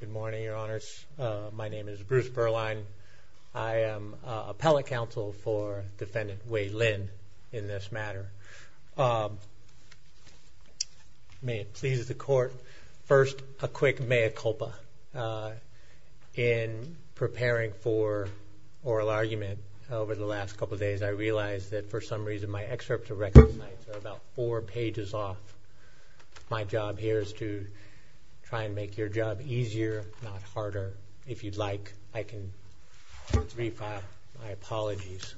Good morning, your honors. My name is Bruce Berline. I am appellate counsel for defendant Wei Lin in this matter. May it please the court, first a quick mea culpa. In preparing for oral argument over the last couple of days, I realized that for some reason my excerpt of recognize are about four pages off. My job here is to try and make your job easier, not harder. If you'd like, I can re-file my apologies.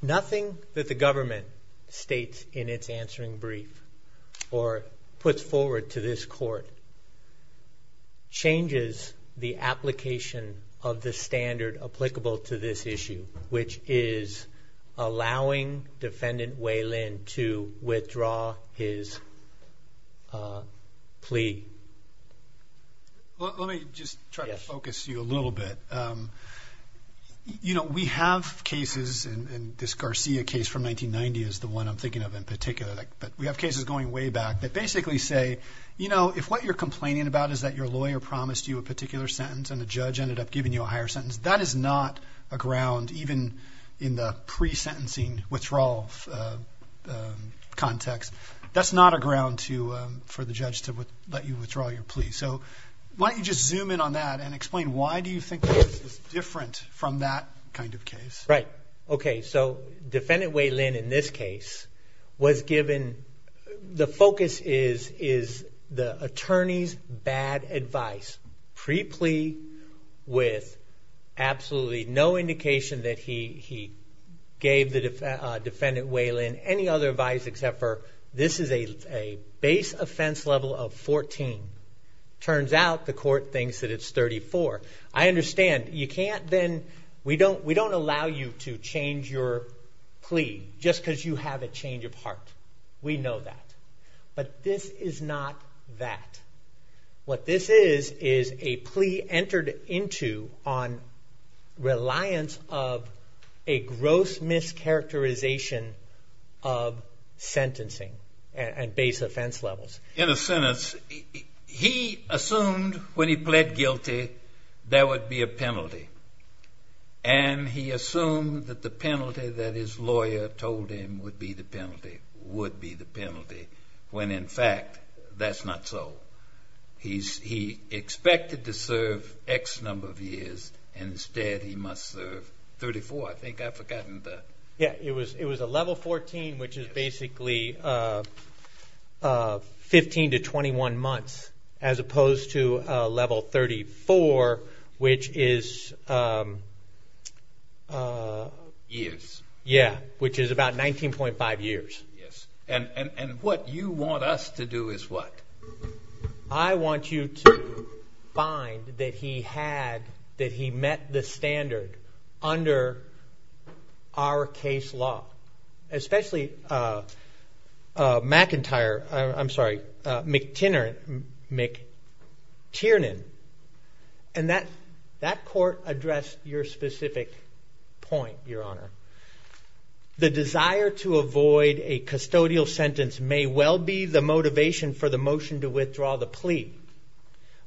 Nothing that the government states in its answering brief or puts forward to this court changes the application of the standard applicable to this issue, which is allowing defendant Wei Lin to withdraw his plea. Let me just try to focus you a little bit. You know, we have cases and this Garcia case from 1990 is the one I'm thinking of in particular, but we have cases going way back that basically say, you know, if what you're complaining about is that your lawyer promised you a particular sentence and the judge ended up giving you a higher sentence, that is not a ground, even in the pre-sentencing withdrawal context. That's not a ground for the judge to let you withdraw your plea. So why don't you just zoom in on that and explain why do you think this is different from that kind of case? Right. Okay. So defendant bad advice. Pre-plea with absolutely no indication that he gave the defendant Wei Lin any other advice except for this is a base offense level of 14. Turns out the court thinks that it's 34. I understand. You can't then, we don't allow you to change your plea just because you have a change of heart. We know that. But this is not that. What this is, is a plea entered into on reliance of a gross mischaracterization of sentencing and base offense levels. In a sentence, he assumed when he pled guilty, there would be a penalty. And he assumed that the penalty that his lawyer told him would be the penalty, would be the penalty. When in fact, that's not so. He expected to serve X number of years. Instead, he must serve 34. I think I've forgotten that. Yeah, it was a level 14, which is basically 15 to 21 months, as opposed to a level 34, which is... about 19.5 years. Yes. And what you want us to do is what? I want you to find that he had, that he met the standard under our case law. Especially McIntyre, I'm sorry, McTiernan. And that court addressed your specific point, Your Honor. The desire to avoid a custodial sentence may well be the motivation for the motion to withdraw the plea.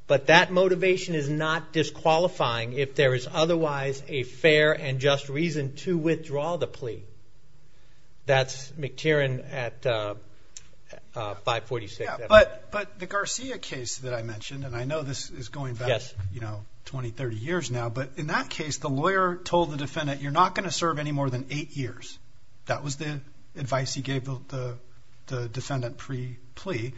But that motivation is not disqualifying if there is otherwise a fair and just reason to withdraw the plea. That's McTiernan at 546. But the Garcia case that I mentioned, and I know this is going back, you know, 20, 30 years now. But in that case, the lawyer told the defendant, you're not going to serve any more than eight years. That was the advice he gave the defendant pre-plea.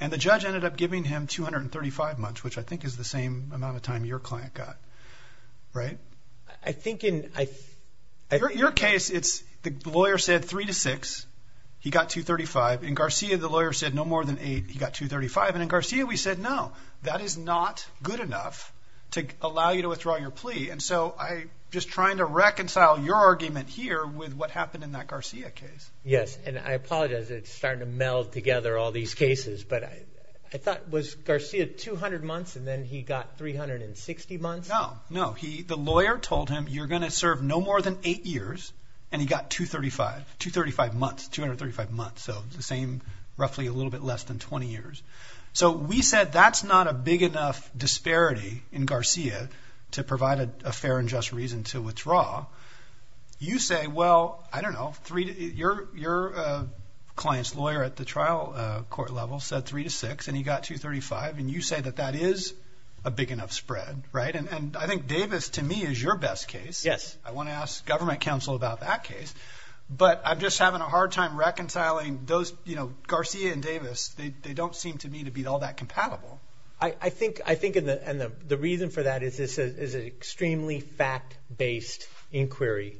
And the judge ended up giving him 235 months, which I think is the same amount of time your client got. Right? I think in your case, it's the lawyer said three to six, he got 235. In Garcia, the lawyer said no more than eight. He got 235. And in Garcia, we said, no, that is not good enough to allow you to withdraw your plea. And so I just trying to reconcile your argument here with what happened in that Garcia case. Yes. And I apologize. It's starting to meld together all these cases. But I thought was Garcia 200 months and then he got 360 months. No, no. He, the lawyer told him you're going to serve no more than eight years. And he got 235, 235 months, 235 months. So the same, roughly a little bit less than 20 years. So we said that's not a big enough disparity in Garcia to provide a fair and just reason to withdraw. You say, well, I don't know, three, your client's lawyer at the trial court level said three to six and he got 235. And you say that that is a big enough spread. Right. And I think Davis to me is your best case. Yes. I want to ask government counsel about that case, but I'm just having a hard time reconciling those, you know, Garcia and Davis. They, they don't seem to me to be all that compatible. I think, I think in the, in the, the reason for that is this is an extremely fact based inquiry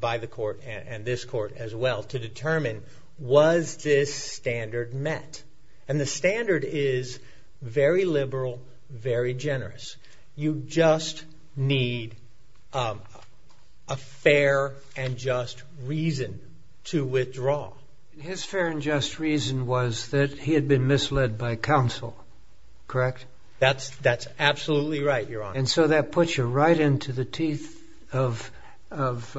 by the court and this court as well to determine was this standard met. And the standard is very liberal, very generous. You just need a fair and just reason to withdraw. His fair and just reason was that he had been misled by counsel. Correct? That's, that's absolutely right, Your Honor. And so that puts you right into the teeth of, of,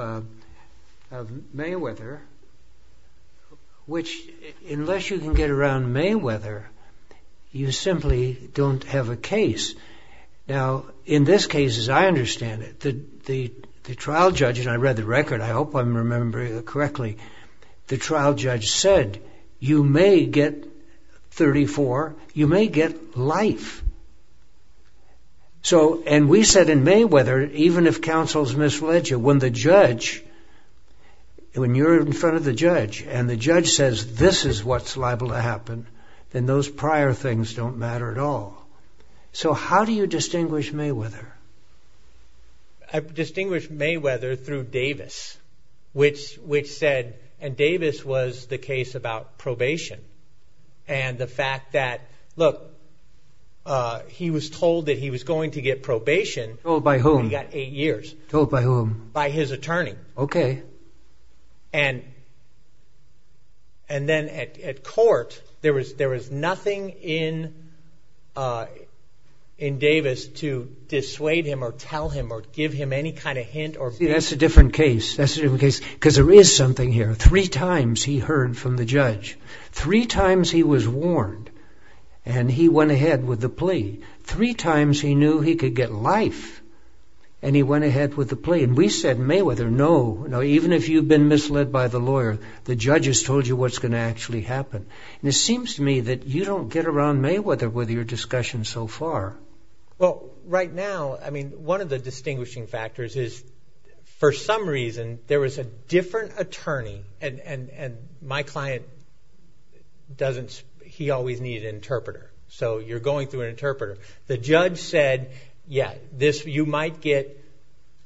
of Mayweather, which unless you can get around Mayweather, you simply don't have a case. Now, in this case, as I understand it, the, the, the trial judge, and I read the record, I hope I'm remembering correctly, the trial judge said, you may get 34, you may get life. So, and we said in counsel's misled you. When the judge, when you're in front of the judge and the judge says this is what's liable to happen, then those prior things don't matter at all. So how do you distinguish Mayweather? I distinguished Mayweather through Davis, which, which said, and Davis was the case about probation. And the fact that, look, he was told that he was going to get probation. Told by whom? He got eight years. Told by whom? By his attorney. Okay. And, and then at, at court, there was, there was nothing in, in Davis to dissuade him or tell him or give him any kind of hint or... See, that's a different case. That's a different case. Because there is something here. Three times he heard from the judge. Three times he was warned. And he went ahead with the plea. Three times he knew he could get life. And he went ahead with the plea. And we said, Mayweather, no, no, even if you've been misled by the lawyer, the judge has told you what's going to actually happen. And it seems to me that you don't get around Mayweather with your discussion so far. Well, right now, I mean, one of the distinguishing factors is, for some reason, there was a different attorney and, and, and my client doesn't, he always needed an interpreter. So you're going through an audit. This, you might get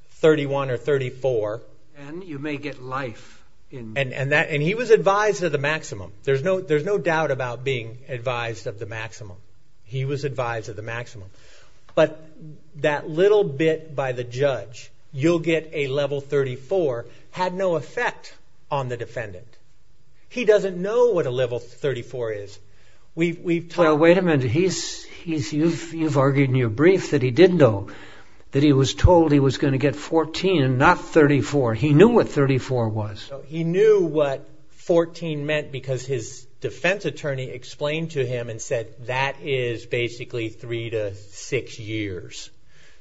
31 or 34. And you may get life in... And, and that, and he was advised of the maximum. There's no, there's no doubt about being advised of the maximum. He was advised of the maximum. But that little bit by the judge, you'll get a level 34, had no effect on the defendant. He doesn't know what a level 34 is. We've, we've... Well, wait a minute. He's, he's, you've, you've argued in your brief that he didn't know that he was told he was going to get 14, not 34. He knew what 34 was. He knew what 14 meant because his defense attorney explained to him and said, that is basically three to six years.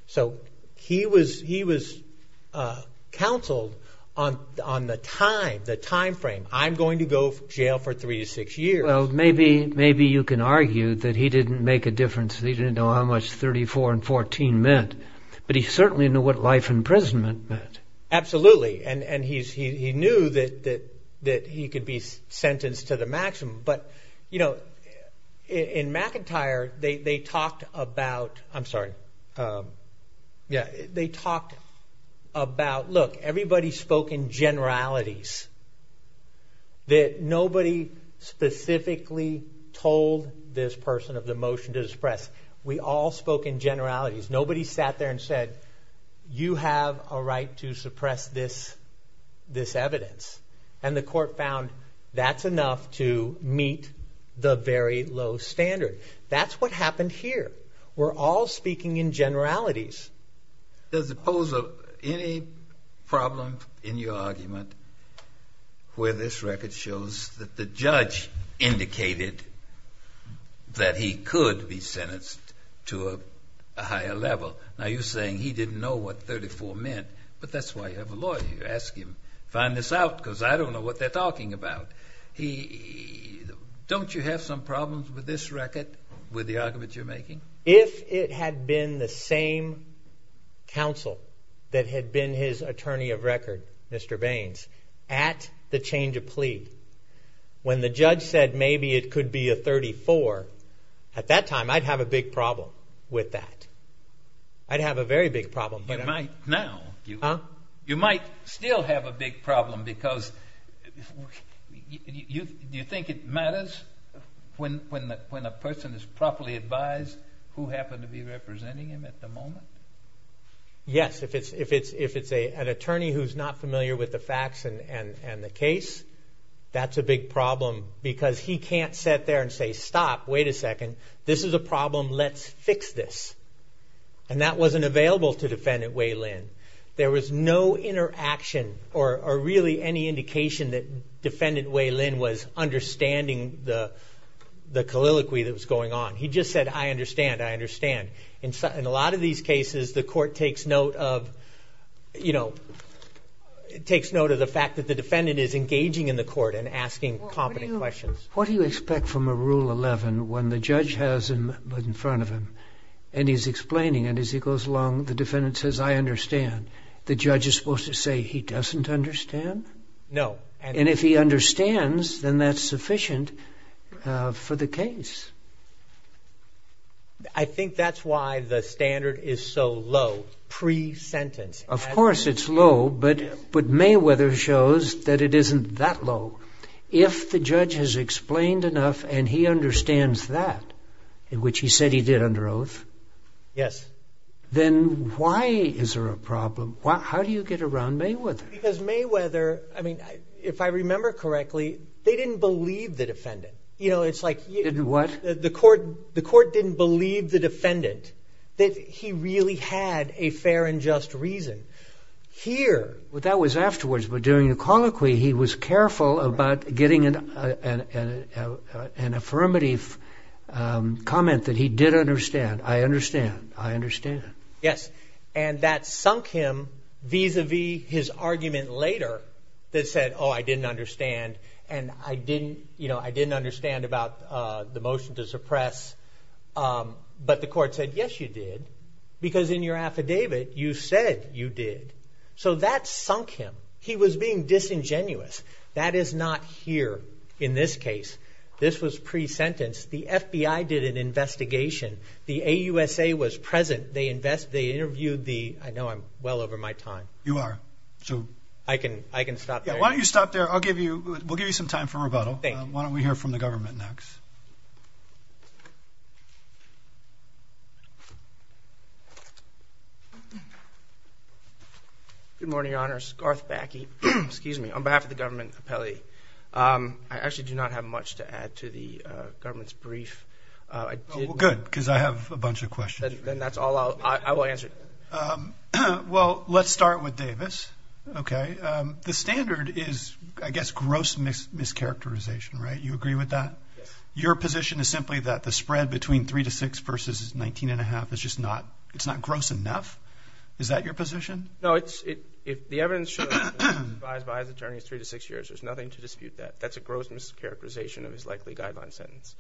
So he was, he was counseled on, on the time, the timeframe, I'm going to go to jail for three to six years. Well, maybe, maybe you can argue that he didn't make a difference. He didn't know how much 34 and 14 meant, but he certainly knew what life imprisonment meant. Absolutely. And, and he's, he, he knew that, that, that he could be sentenced to the maximum. But, you know, in McIntyre, they, they talked about, I'm sorry. Yeah. They talked about, look, everybody spoke in generalities. That nobody specifically told this person of the motion to suppress. We all spoke in generalities. Nobody sat there and said, you have a right to suppress this, this evidence. And the court found that's enough to meet the very low standard. That's what happened here. We're all speaking in generalities. Does it pose any problem in your argument where this record shows that the judge indicated that he could be sentenced to a higher level? Now, you're saying he didn't know what 34 meant, but that's why you have a lawyer. You ask him, find this out because I don't know what they're talking about. He, don't you have some problems with this record, with the argument you're making? If it had been the same counsel that had been his attorney of record, Mr. Baines, at the change of plea, when the judge said maybe it could be a 34, at that time, I'd have a big problem with that. I'd have a very big problem. You might still have a big problem because, do you think it matters when a person is properly advised who happened to be representing him at the moment? Yes, if it's an attorney who's not familiar with the facts and the case, that's a big problem because he can't sit there and say, stop, wait a second, this is a problem, let's fix this. And that wasn't available to Defendant Wei Lin. There was no interaction or really any indication that Defendant Wei Lin was understanding the colloquy that was going on. He just said, I understand, I understand. In a lot of these cases, the court takes note of the fact that the defendant is engaging in the court and asking competent questions. What do you expect from a Rule 11 when the judge has him in front of him, and he's explaining, and as he goes along, the defendant says, I understand. The judge is supposed to say, he doesn't understand? No. And if he understands, then that's sufficient for the case. I think that's why the standard is so low, pre-sentence. Of course it's low, but Mayweather shows that it isn't that low. If the judge has explained enough and he understands that, which he said he did under oath, then why is there a problem? How do you get around Mayweather? Because Mayweather, if I remember correctly, they didn't believe the defendant. Didn't what? Here, that was afterwards, but during the colloquy, he was careful about getting an affirmative comment that he did understand. I understand, I understand. Yes, and that sunk him vis-a-vis his argument later that said, oh, I didn't understand, and I didn't understand about the motion to So that sunk him. He was being disingenuous. That is not here in this case. This was pre-sentence. The FBI did an investigation. The AUSA was present. They interviewed the, I know I'm well over my time. You are. I can stop there. Why don't you stop there? We'll give you some time for rebuttal. Why don't we hear from the government next? Good morning, Your Honors. Garth Backey. Excuse me. On behalf of the government appellee, I actually do not have much to add to the government's brief. Good, because I have a bunch of questions. Then that's all I will answer. Well, let's start with Davis. Okay. The standard is, I guess, gross mischaracterization, right? You agree with that? Yes. Your position is simply that the spread between three to six versus 19 1⁄2 is just not, it's not gross enough? Is that your position? No. The evidence should have been advised by his attorneys three to six years. There's nothing to dispute that. That's a gross mischaracterization of his likely guideline sentence.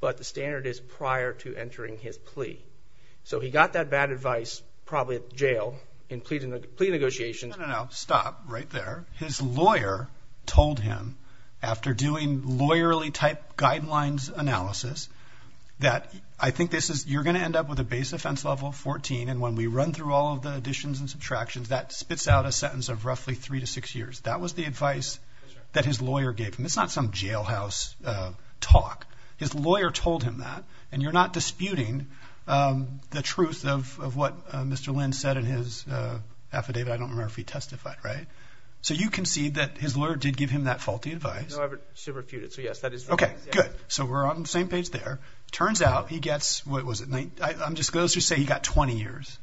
But the standard is prior to entering his plea. So he got that bad advice probably at jail in plea negotiations. No, no, no. Stop right there. His lawyer told him, after doing lawyerly type guidelines analysis, that I think this is, you're going to end up with a base offense level of 14, and when we run through all of the additions and subtractions, that spits out a sentence of roughly three to six years. That was the advice that his lawyer gave him. It's not some jailhouse talk. His lawyer told him that, and you're not disputing the truth of what Mr. Lynn said in his affidavit. I don't remember if he testified, right? So you concede that his lawyer did give him that faulty advice. No, I should refute it. So, yes, that is right. Okay, good. So we're on the same page there. Turns out he gets, what was it, I'm just going to say he got 20 years.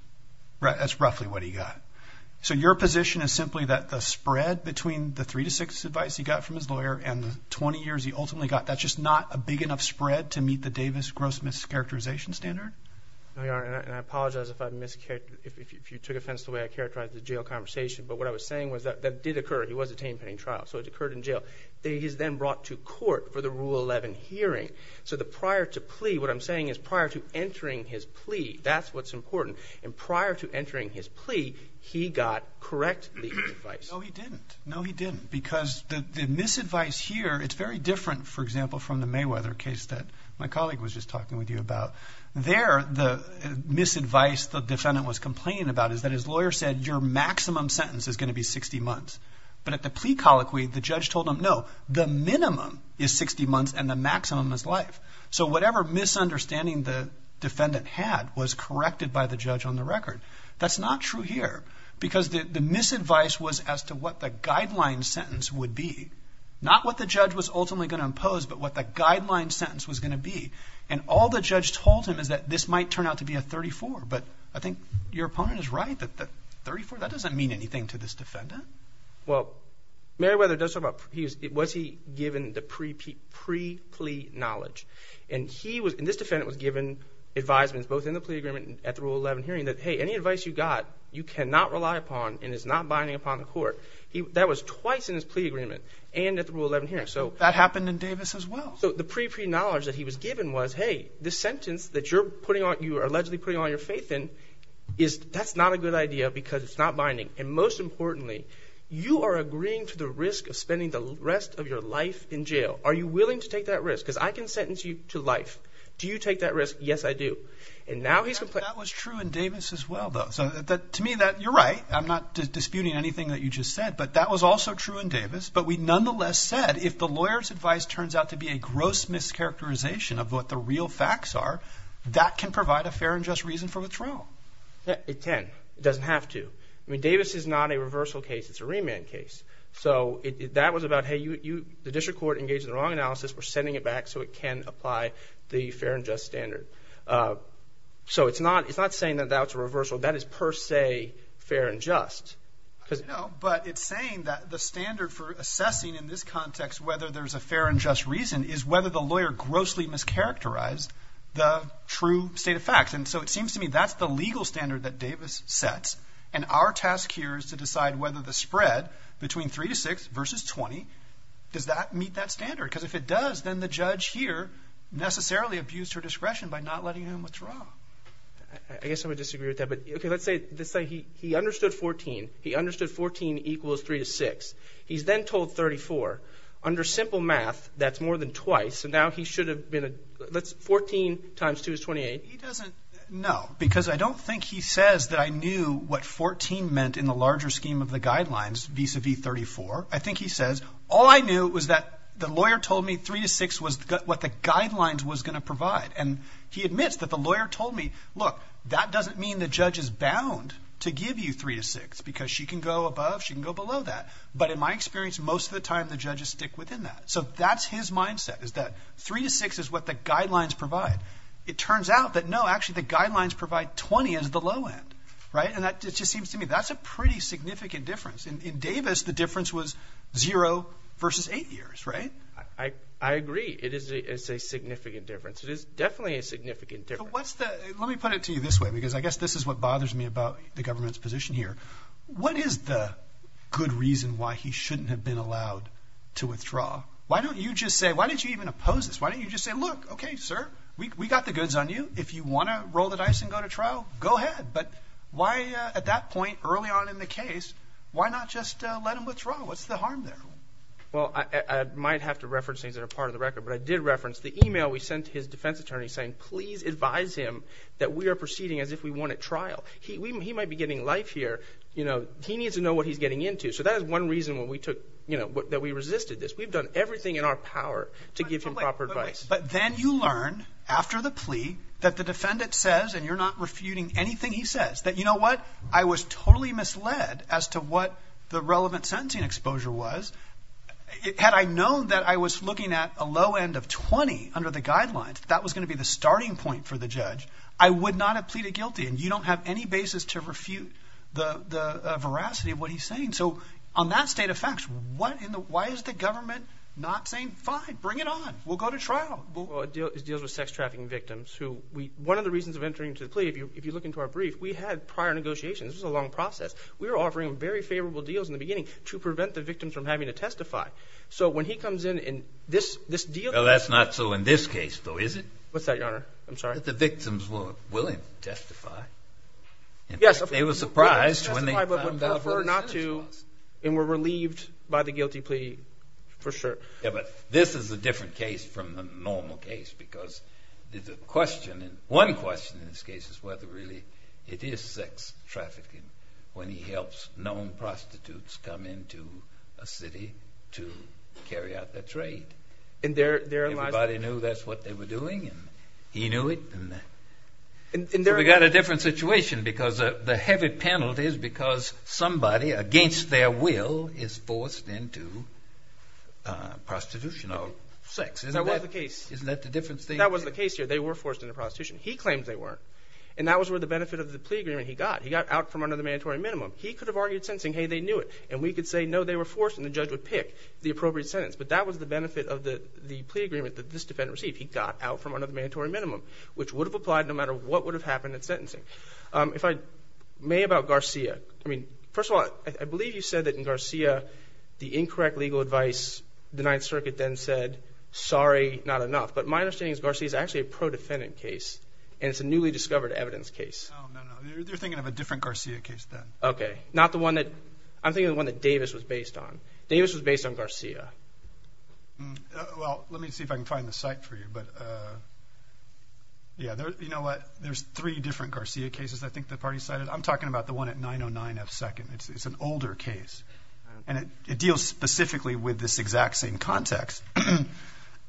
That's roughly what he got. So your position is simply that the spread between the three to six advice he got from his lawyer and the 20 years he ultimately got, that's just not a big enough spread to meet the Davis gross mischaracterization standard? No, Your Honor, and I apologize if you took offense to the way I characterized the jail conversation, but what I was saying was that that did occur. It was a tame-paying trial, so it occurred in jail. He was then brought to court for the Rule 11 hearing. So the prior to plea, what I'm saying is prior to entering his plea, that's what's important. And prior to entering his plea, he got correct legal advice. No, he didn't. No, he didn't, because the misadvice here, it's very different, for example, from the Mayweather case that my colleague was just talking with you about. There, the misadvice the defendant was complaining about is that his lawyer said, your maximum sentence is going to be 60 months. But at the plea colloquy, the judge told him, no, the minimum is 60 months and the maximum is life. So whatever misunderstanding the defendant had was corrected by the judge on the record. That's not true here, because the misadvice was as to what the guideline sentence would be, not what the judge was ultimately going to impose, but what the guideline sentence was going to be. And all the judge told him is that this might turn out to be a 34, but I think your opponent is right that the 34, that doesn't mean anything to this defendant. Well, Mayweather does talk about, was he given the pre-plea knowledge? And he was, and this defendant was given advisements, both in the plea agreement and at the Rule 11 hearing, that, hey, any advice you got, you cannot rely upon and is not binding upon the court. That was twice in his plea agreement and at the Rule 11 hearing. That happened in Davis as well. So the pre-plea knowledge that he was given was, hey, this sentence that you're putting on, you're allegedly putting all your faith in, that's not a good idea because it's not binding. And most importantly, you are agreeing to the risk of spending the rest of your life in jail. Are you willing to take that risk? Because I can sentence you to life. Do you take that risk? Yes, I do. And now he's complaining. That was true in Davis as well, though. So to me, you're right. I'm not disputing anything that you just said, but that was also true in Davis. But we nonetheless said if the lawyer's advice turns out to be a gross mischaracterization of what the real facts are, that can provide a fair and just reason for withdrawal. It can. It doesn't have to. I mean, Davis is not a reversal case. It's a remand case. So that was about, hey, the district court engaged in the wrong analysis. We're sending it back so it can apply the fair and just standard. So it's not saying that that was a reversal. That is per se fair and just. No, but it's saying that the standard for assessing in this context whether there's a fair and just reason is whether the lawyer grossly mischaracterized the true state of facts. And so it seems to me that's the legal standard that Davis sets. And our task here is to decide whether the spread between 3 to 6 versus 20, does that meet that standard? Because if it does, then the judge here necessarily abused her discretion by not letting him withdraw. I guess I would disagree with that. But, okay, let's say he understood 14. He understood 14 equals 3 to 6. He's then told 34. Under simple math, that's more than twice. So now he should have been a – 14 times 2 is 28. He doesn't know because I don't think he says that I knew what 14 meant in the larger scheme of the guidelines vis-à-vis 34. I think he says all I knew was that the lawyer told me 3 to 6 was what the guidelines was going to provide. And he admits that the lawyer told me, look, that doesn't mean the judge is bound to give you 3 to 6 because she can go above, she can go below that. But in my experience, most of the time the judges stick within that. So that's his mindset is that 3 to 6 is what the guidelines provide. It turns out that, no, actually the guidelines provide 20 as the low end, right? And that just seems to me that's a pretty significant difference. In Davis, the difference was 0 versus 8 years, right? I agree. It is a significant difference. It is definitely a significant difference. Let me put it to you this way because I guess this is what bothers me about the government's position here. What is the good reason why he shouldn't have been allowed to withdraw? Why don't you just say – why don't you even oppose this? Why don't you just say, look, okay, sir, we got the goods on you. If you want to roll the dice and go to trial, go ahead. But why at that point early on in the case, why not just let him withdraw? What's the harm there? Well, I might have to reference things that are part of the record, but I did reference the email we sent to his defense attorney saying please advise him that we are proceeding as if we won at trial. He might be getting life here. He needs to know what he's getting into. So that is one reason that we resisted this. We've done everything in our power to give him proper advice. But then you learn after the plea that the defendant says, and you're not refuting anything he says, that you know what? I was totally misled as to what the relevant sentencing exposure was. Had I known that I was looking at a low end of 20 under the guidelines, that was going to be the starting point for the judge. I would not have pleaded guilty, and you don't have any basis to refute the veracity of what he's saying. So on that state of facts, why is the government not saying fine, bring it on. We'll go to trial. It deals with sex trafficking victims. One of the reasons of entering into the plea, if you look into our brief, we had prior negotiations. This was a long process. We were offering very favorable deals in the beginning to prevent the victims from having to testify. So when he comes in and this deal – Well, that's not so in this case, though, is it? What's that, Your Honor? I'm sorry. That the victims were willing to testify. They were surprised when they found out what the sentence was. And were relieved by the guilty plea for sure. Yeah, but this is a different case from the normal case because the question – one question in this case is whether really it is sex trafficking when he helps known prostitutes come into a city to carry out their trade. Everybody knew that's what they were doing and he knew it. So we got a different situation because the heavy penalty is because somebody against their will is forced into prostitution or sex. That was the case. Isn't that the difference? That was the case here. They were forced into prostitution. He claimed they weren't. And that was where the benefit of the plea agreement he got. He got out from under the mandatory minimum. He could have argued sentencing. Hey, they knew it. And we could say, no, they were forced, and the judge would pick the appropriate sentence. But that was the benefit of the plea agreement that this defendant received. He got out from under the mandatory minimum, which would have applied no matter what would have happened at sentencing. If I may, about Garcia. I mean, first of all, I believe you said that in Garcia the incorrect legal advice the Ninth Circuit then said, sorry, not enough. But my understanding is Garcia is actually a pro-defendant case, and it's a newly discovered evidence case. No, no, no. You're thinking of a different Garcia case then. Okay. Not the one that – I'm thinking of the one that Davis was based on. Davis was based on Garcia. Well, let me see if I can find the site for you. But, yeah, you know what? There's three different Garcia cases I think the party cited. I'm talking about the one at 909F2nd. It's an older case, and it deals specifically with this exact same context.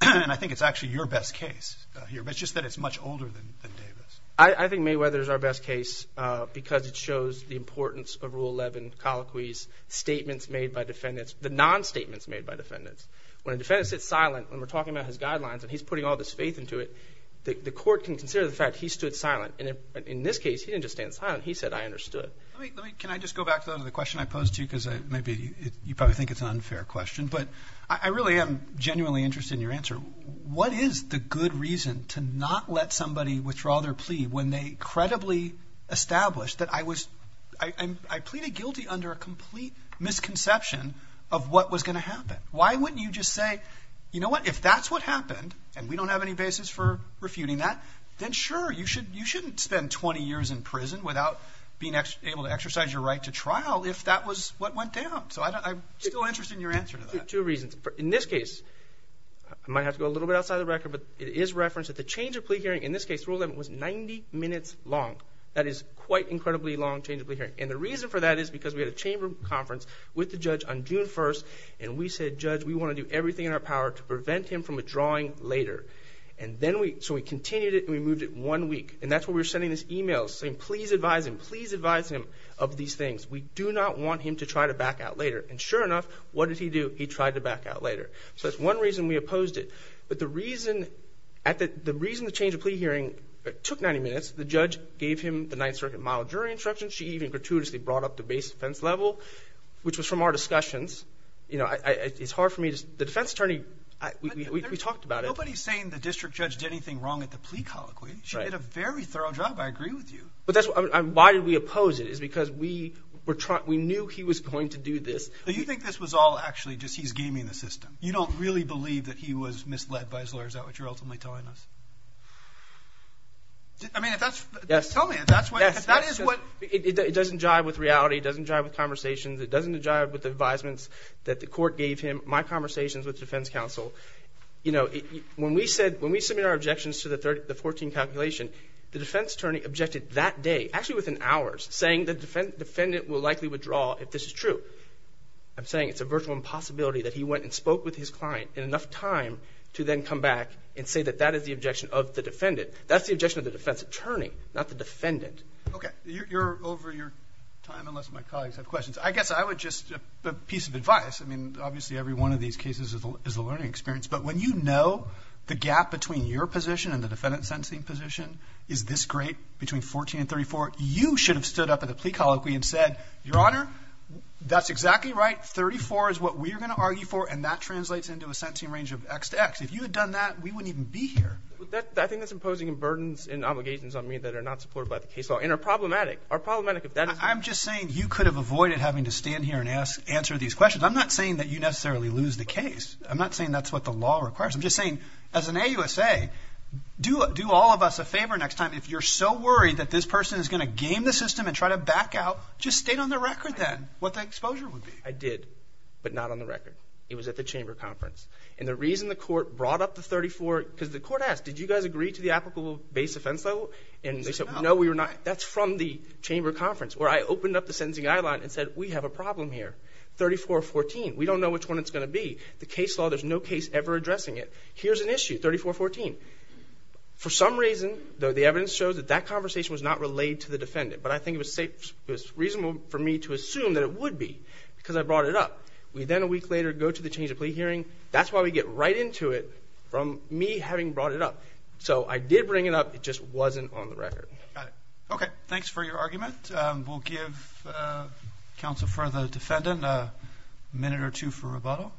And I think it's actually your best case here, but it's just that it's much older than Davis. I think Mayweather's our best case because it shows the importance of Rule 11, colloquy's statements made by defendants, the non-statements made by defendants. When a defendant sits silent when we're talking about his guidelines and he's putting all this faith into it, the court can consider the fact he stood silent. And in this case, he didn't just stand silent. He said, I understood. Can I just go back to the question I posed to you? Because maybe you probably think it's an unfair question. But I really am genuinely interested in your answer. What is the good reason to not let somebody withdraw their plea when they credibly established that I pleaded guilty under a complete misconception of what was going to happen? Why wouldn't you just say, you know what, if that's what happened and we don't have any basis for refuting that, then sure, you shouldn't spend 20 years in prison without being able to exercise your right to trial if that was what went down. So I'm still interested in your answer to that. Two reasons. In this case, I might have to go a little bit outside the record, but it is referenced that the change of plea hearing, in this case Rule 11, was 90 minutes long. That is quite an incredibly long change of plea hearing. And the reason for that is because we had a chamber conference with the judge on June 1st and we said, Judge, we want to do everything in our power to prevent him from withdrawing later. So we continued it and we moved it one week. And that's when we were sending this email saying, please advise him. Please advise him of these things. We do not want him to try to back out later. And sure enough, what did he do? He tried to back out later. So that's one reason we opposed it. But the reason the change of plea hearing took 90 minutes, the judge gave him the Ninth Circuit model jury instruction. She even gratuitously brought up the base defense level, which was from our discussions. It's hard for me to say. The defense attorney, we talked about it. Nobody is saying the district judge did anything wrong at the plea colloquy. She did a very thorough job. I agree with you. Why did we oppose it? It's because we knew he was going to do this. So you think this was all actually just he's gaming the system. You don't really believe that he was misled by his lawyers. Is that what you're ultimately telling us? I mean, if that's, tell me if that's what, if that is what. It doesn't jive with reality. It doesn't jive with conversations. It doesn't jive with the advisements that the court gave him, my conversations with defense counsel. You know, when we said, when we submitted our objections to the 14 calculation, the defense attorney objected that day, actually within hours, saying the defendant will likely withdraw if this is true. I'm saying it's a virtual impossibility that he went and spoke with his client in enough time to then come back and say that that is the objection of the defendant. That's the objection of the defense attorney, not the defendant. Okay. You're over your time unless my colleagues have questions. I guess I would just, a piece of advice, I mean, obviously every one of these cases is a learning experience, but when you know the gap between your position and the defendant's sentencing position is this great between 14 and 34, you should have stood up at the plea colloquy and said, Your Honor, that's exactly right. 34 is what we are going to argue for, and that translates into a sentencing range of X to X. If you had done that, we wouldn't even be here. I think that's imposing burdens and obligations on me that are not supported by the case law and are problematic. I'm just saying you could have avoided having to stand here and answer these questions. I'm not saying that you necessarily lose the case. I'm not saying that's what the law requires. I'm just saying, as an AUSA, do all of us a favor next time. If you're so worried that this person is going to game the system and try to back out, just state on the record then what the exposure would be. I did, but not on the record. It was at the chamber conference. And the reason the court brought up the 34, because the court asked, Did you guys agree to the applicable base offense level? And they said, No, we were not. That's from the chamber conference where I opened up the sentencing guideline and said, We have a problem here, 34-14. We don't know which one it's going to be. The case law, there's no case ever addressing it. Here's an issue, 34-14. For some reason, though, the evidence shows that that conversation was not relayed to the defendant. But I think it was reasonable for me to assume that it would be, because I brought it up. We then a week later go to the change of plea hearing. That's why we get right into it from me having brought it up. So I did bring it up. It just wasn't on the record. Okay. Thanks for your argument. We'll give counsel for the defendant a minute or two for rebuttal.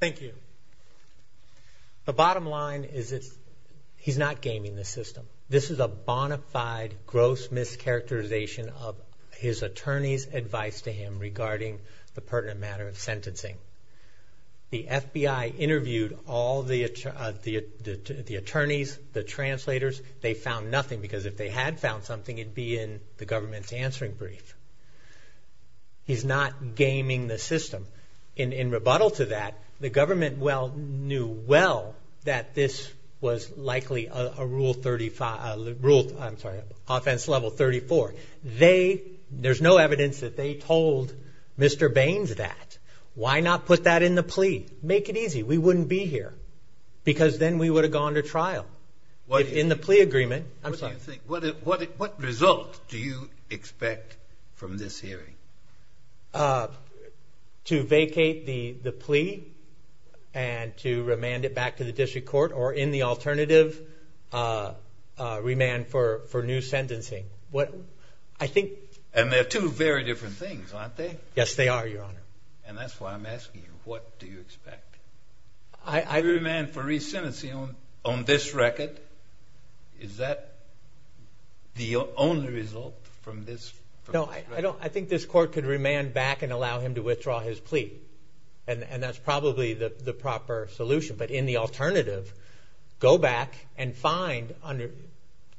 Thank you. The bottom line is he's not gaming the system. This is a bona fide gross mischaracterization of his attorney's advice to him regarding the pertinent matter of sentencing. The FBI interviewed all the attorneys, the translators. They found nothing, because if they had found something, it would be in the government's answering brief. He's not gaming the system. In rebuttal to that, the government knew well that this was likely a rule offense level 34. There's no evidence that they told Mr. Baines that. Why not put that in the plea? Make it easy. We wouldn't be here, because then we would have gone to trial. In the plea agreement. What result do you expect from this hearing? To vacate the plea and to remand it back to the district court or in the alternative, remand for new sentencing. And they're two very different things, aren't they? Yes, they are, Your Honor. And that's why I'm asking you, what do you expect? A remand for resentencing on this record? Is that the only result from this record? No, I think this court could remand back and allow him to withdraw his plea, and that's probably the proper solution. But in the alternative, go back and find under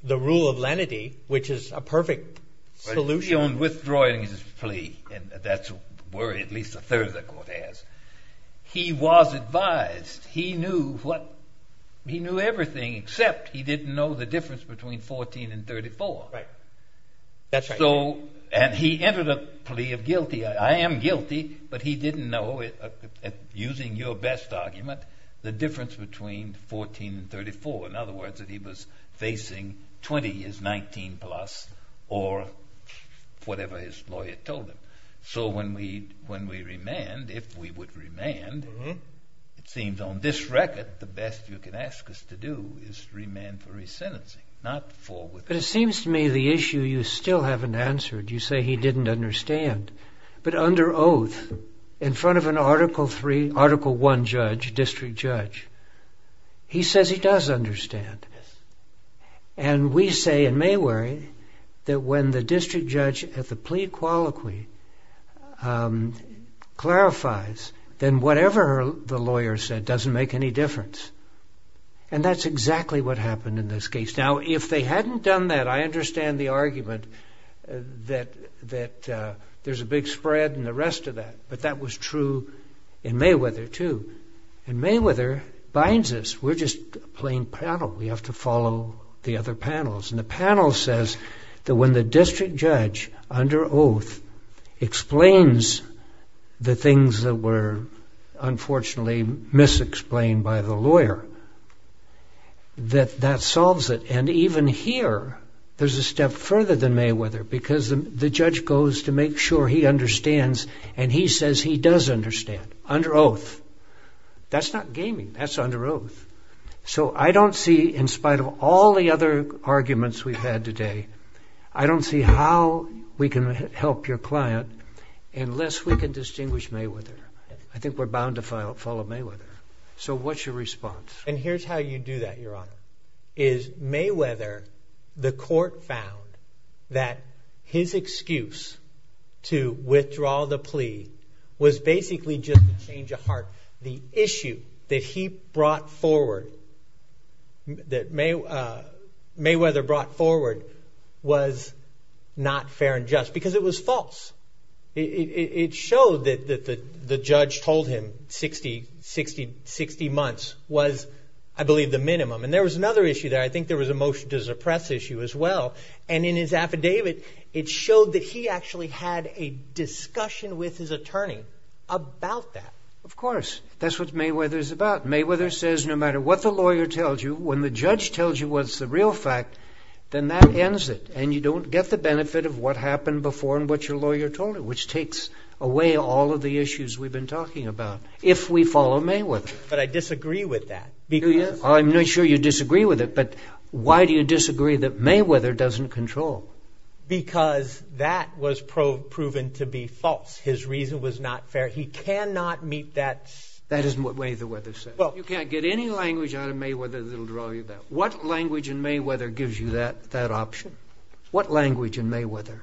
the rule of lenity, which is a perfect solution. Withdrawing his plea, that's a worry at least a third of the court has. He was advised. He knew everything except he didn't know the difference between 14 and 34. And he entered a plea of guilty. I am guilty, but he didn't know, using your best argument, the difference between 14 and 34. In other words, that he was facing 20 as 19 plus or whatever his lawyer told him. So when we remand, if we would remand, it seems on this record, the best you can ask us to do is remand for resentencing, not for withdrawal. But it seems to me the issue you still haven't answered. You say he didn't understand. But under oath, in front of an Article I judge, district judge, he says he does understand. And we say in Mayweary that when the district judge at the plea colloquy clarifies, then whatever the lawyer said doesn't make any difference. And that's exactly what happened in this case. Now, if they hadn't done that, I understand the argument that there's a big spread and the rest of that. But that was true in Mayweather too. And Mayweather binds us. We're just a plain panel. We have to follow the other panels. And the panel says that when the district judge, under oath, explains the things that were unfortunately misexplained by the lawyer, that that solves it. And even here, there's a step further than Mayweather because the judge goes to make sure he understands, and he says he does understand. Under oath. That's not gaming. That's under oath. So I don't see, in spite of all the other arguments we've had today, I don't see how we can help your client unless we can distinguish Mayweather. I think we're bound to follow Mayweather. So what's your response? And here's how you do that, Your Honor, is Mayweather, the court found that his excuse to withdraw the plea was basically just a change of heart. The issue that he brought forward, that Mayweather brought forward, was not fair and just because it was false. It showed that the judge told him 60 months was, I believe, the minimum. And there was another issue there. I think there was a motion to suppress issue as well, and in his affidavit, it showed that he actually had a discussion with his attorney about that. Of course. That's what Mayweather's about. Mayweather says no matter what the lawyer tells you, when the judge tells you what's the real fact, then that ends it, and you don't get the benefit of what happened before and what your lawyer told you, which takes away all of the issues we've been talking about if we follow Mayweather. But I disagree with that. I'm not sure you disagree with it, but why do you disagree that Mayweather doesn't control? Because that was proven to be false. His reason was not fair. He cannot meet that. That is the way Mayweather said it. You can't get any language out of Mayweather that will draw you back. What language in Mayweather gives you that option? What language in Mayweather?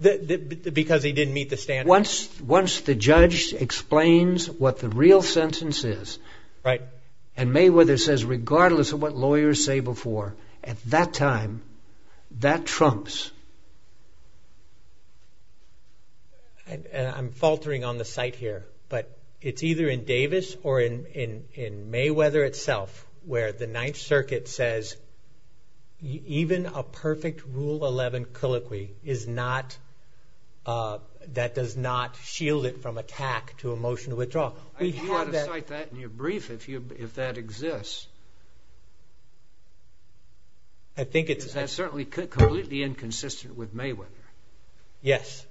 Because he didn't meet the standards. Once the judge explains what the real sentence is, and Mayweather says regardless of what lawyers say before, at that time, that trumps. I'm faltering on the site here, but it's either in Davis or in Mayweather itself where the Ninth Circuit says even a perfect Rule 11 colloquy does not shield it from attack to a motion to withdraw. You ought to cite that in your brief if that exists. That's certainly completely inconsistent with Mayweather. Yes.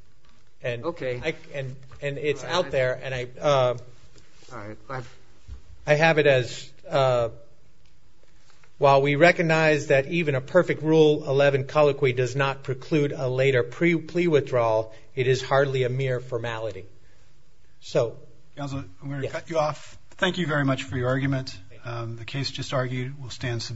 Okay. It's out there, and I have it as, while we recognize that even a perfect Rule 11 colloquy does not preclude a later plea withdrawal, it is hardly a mere formality. I'm going to cut you off. Thank you very much for your argument. The case just argued will stand submitted.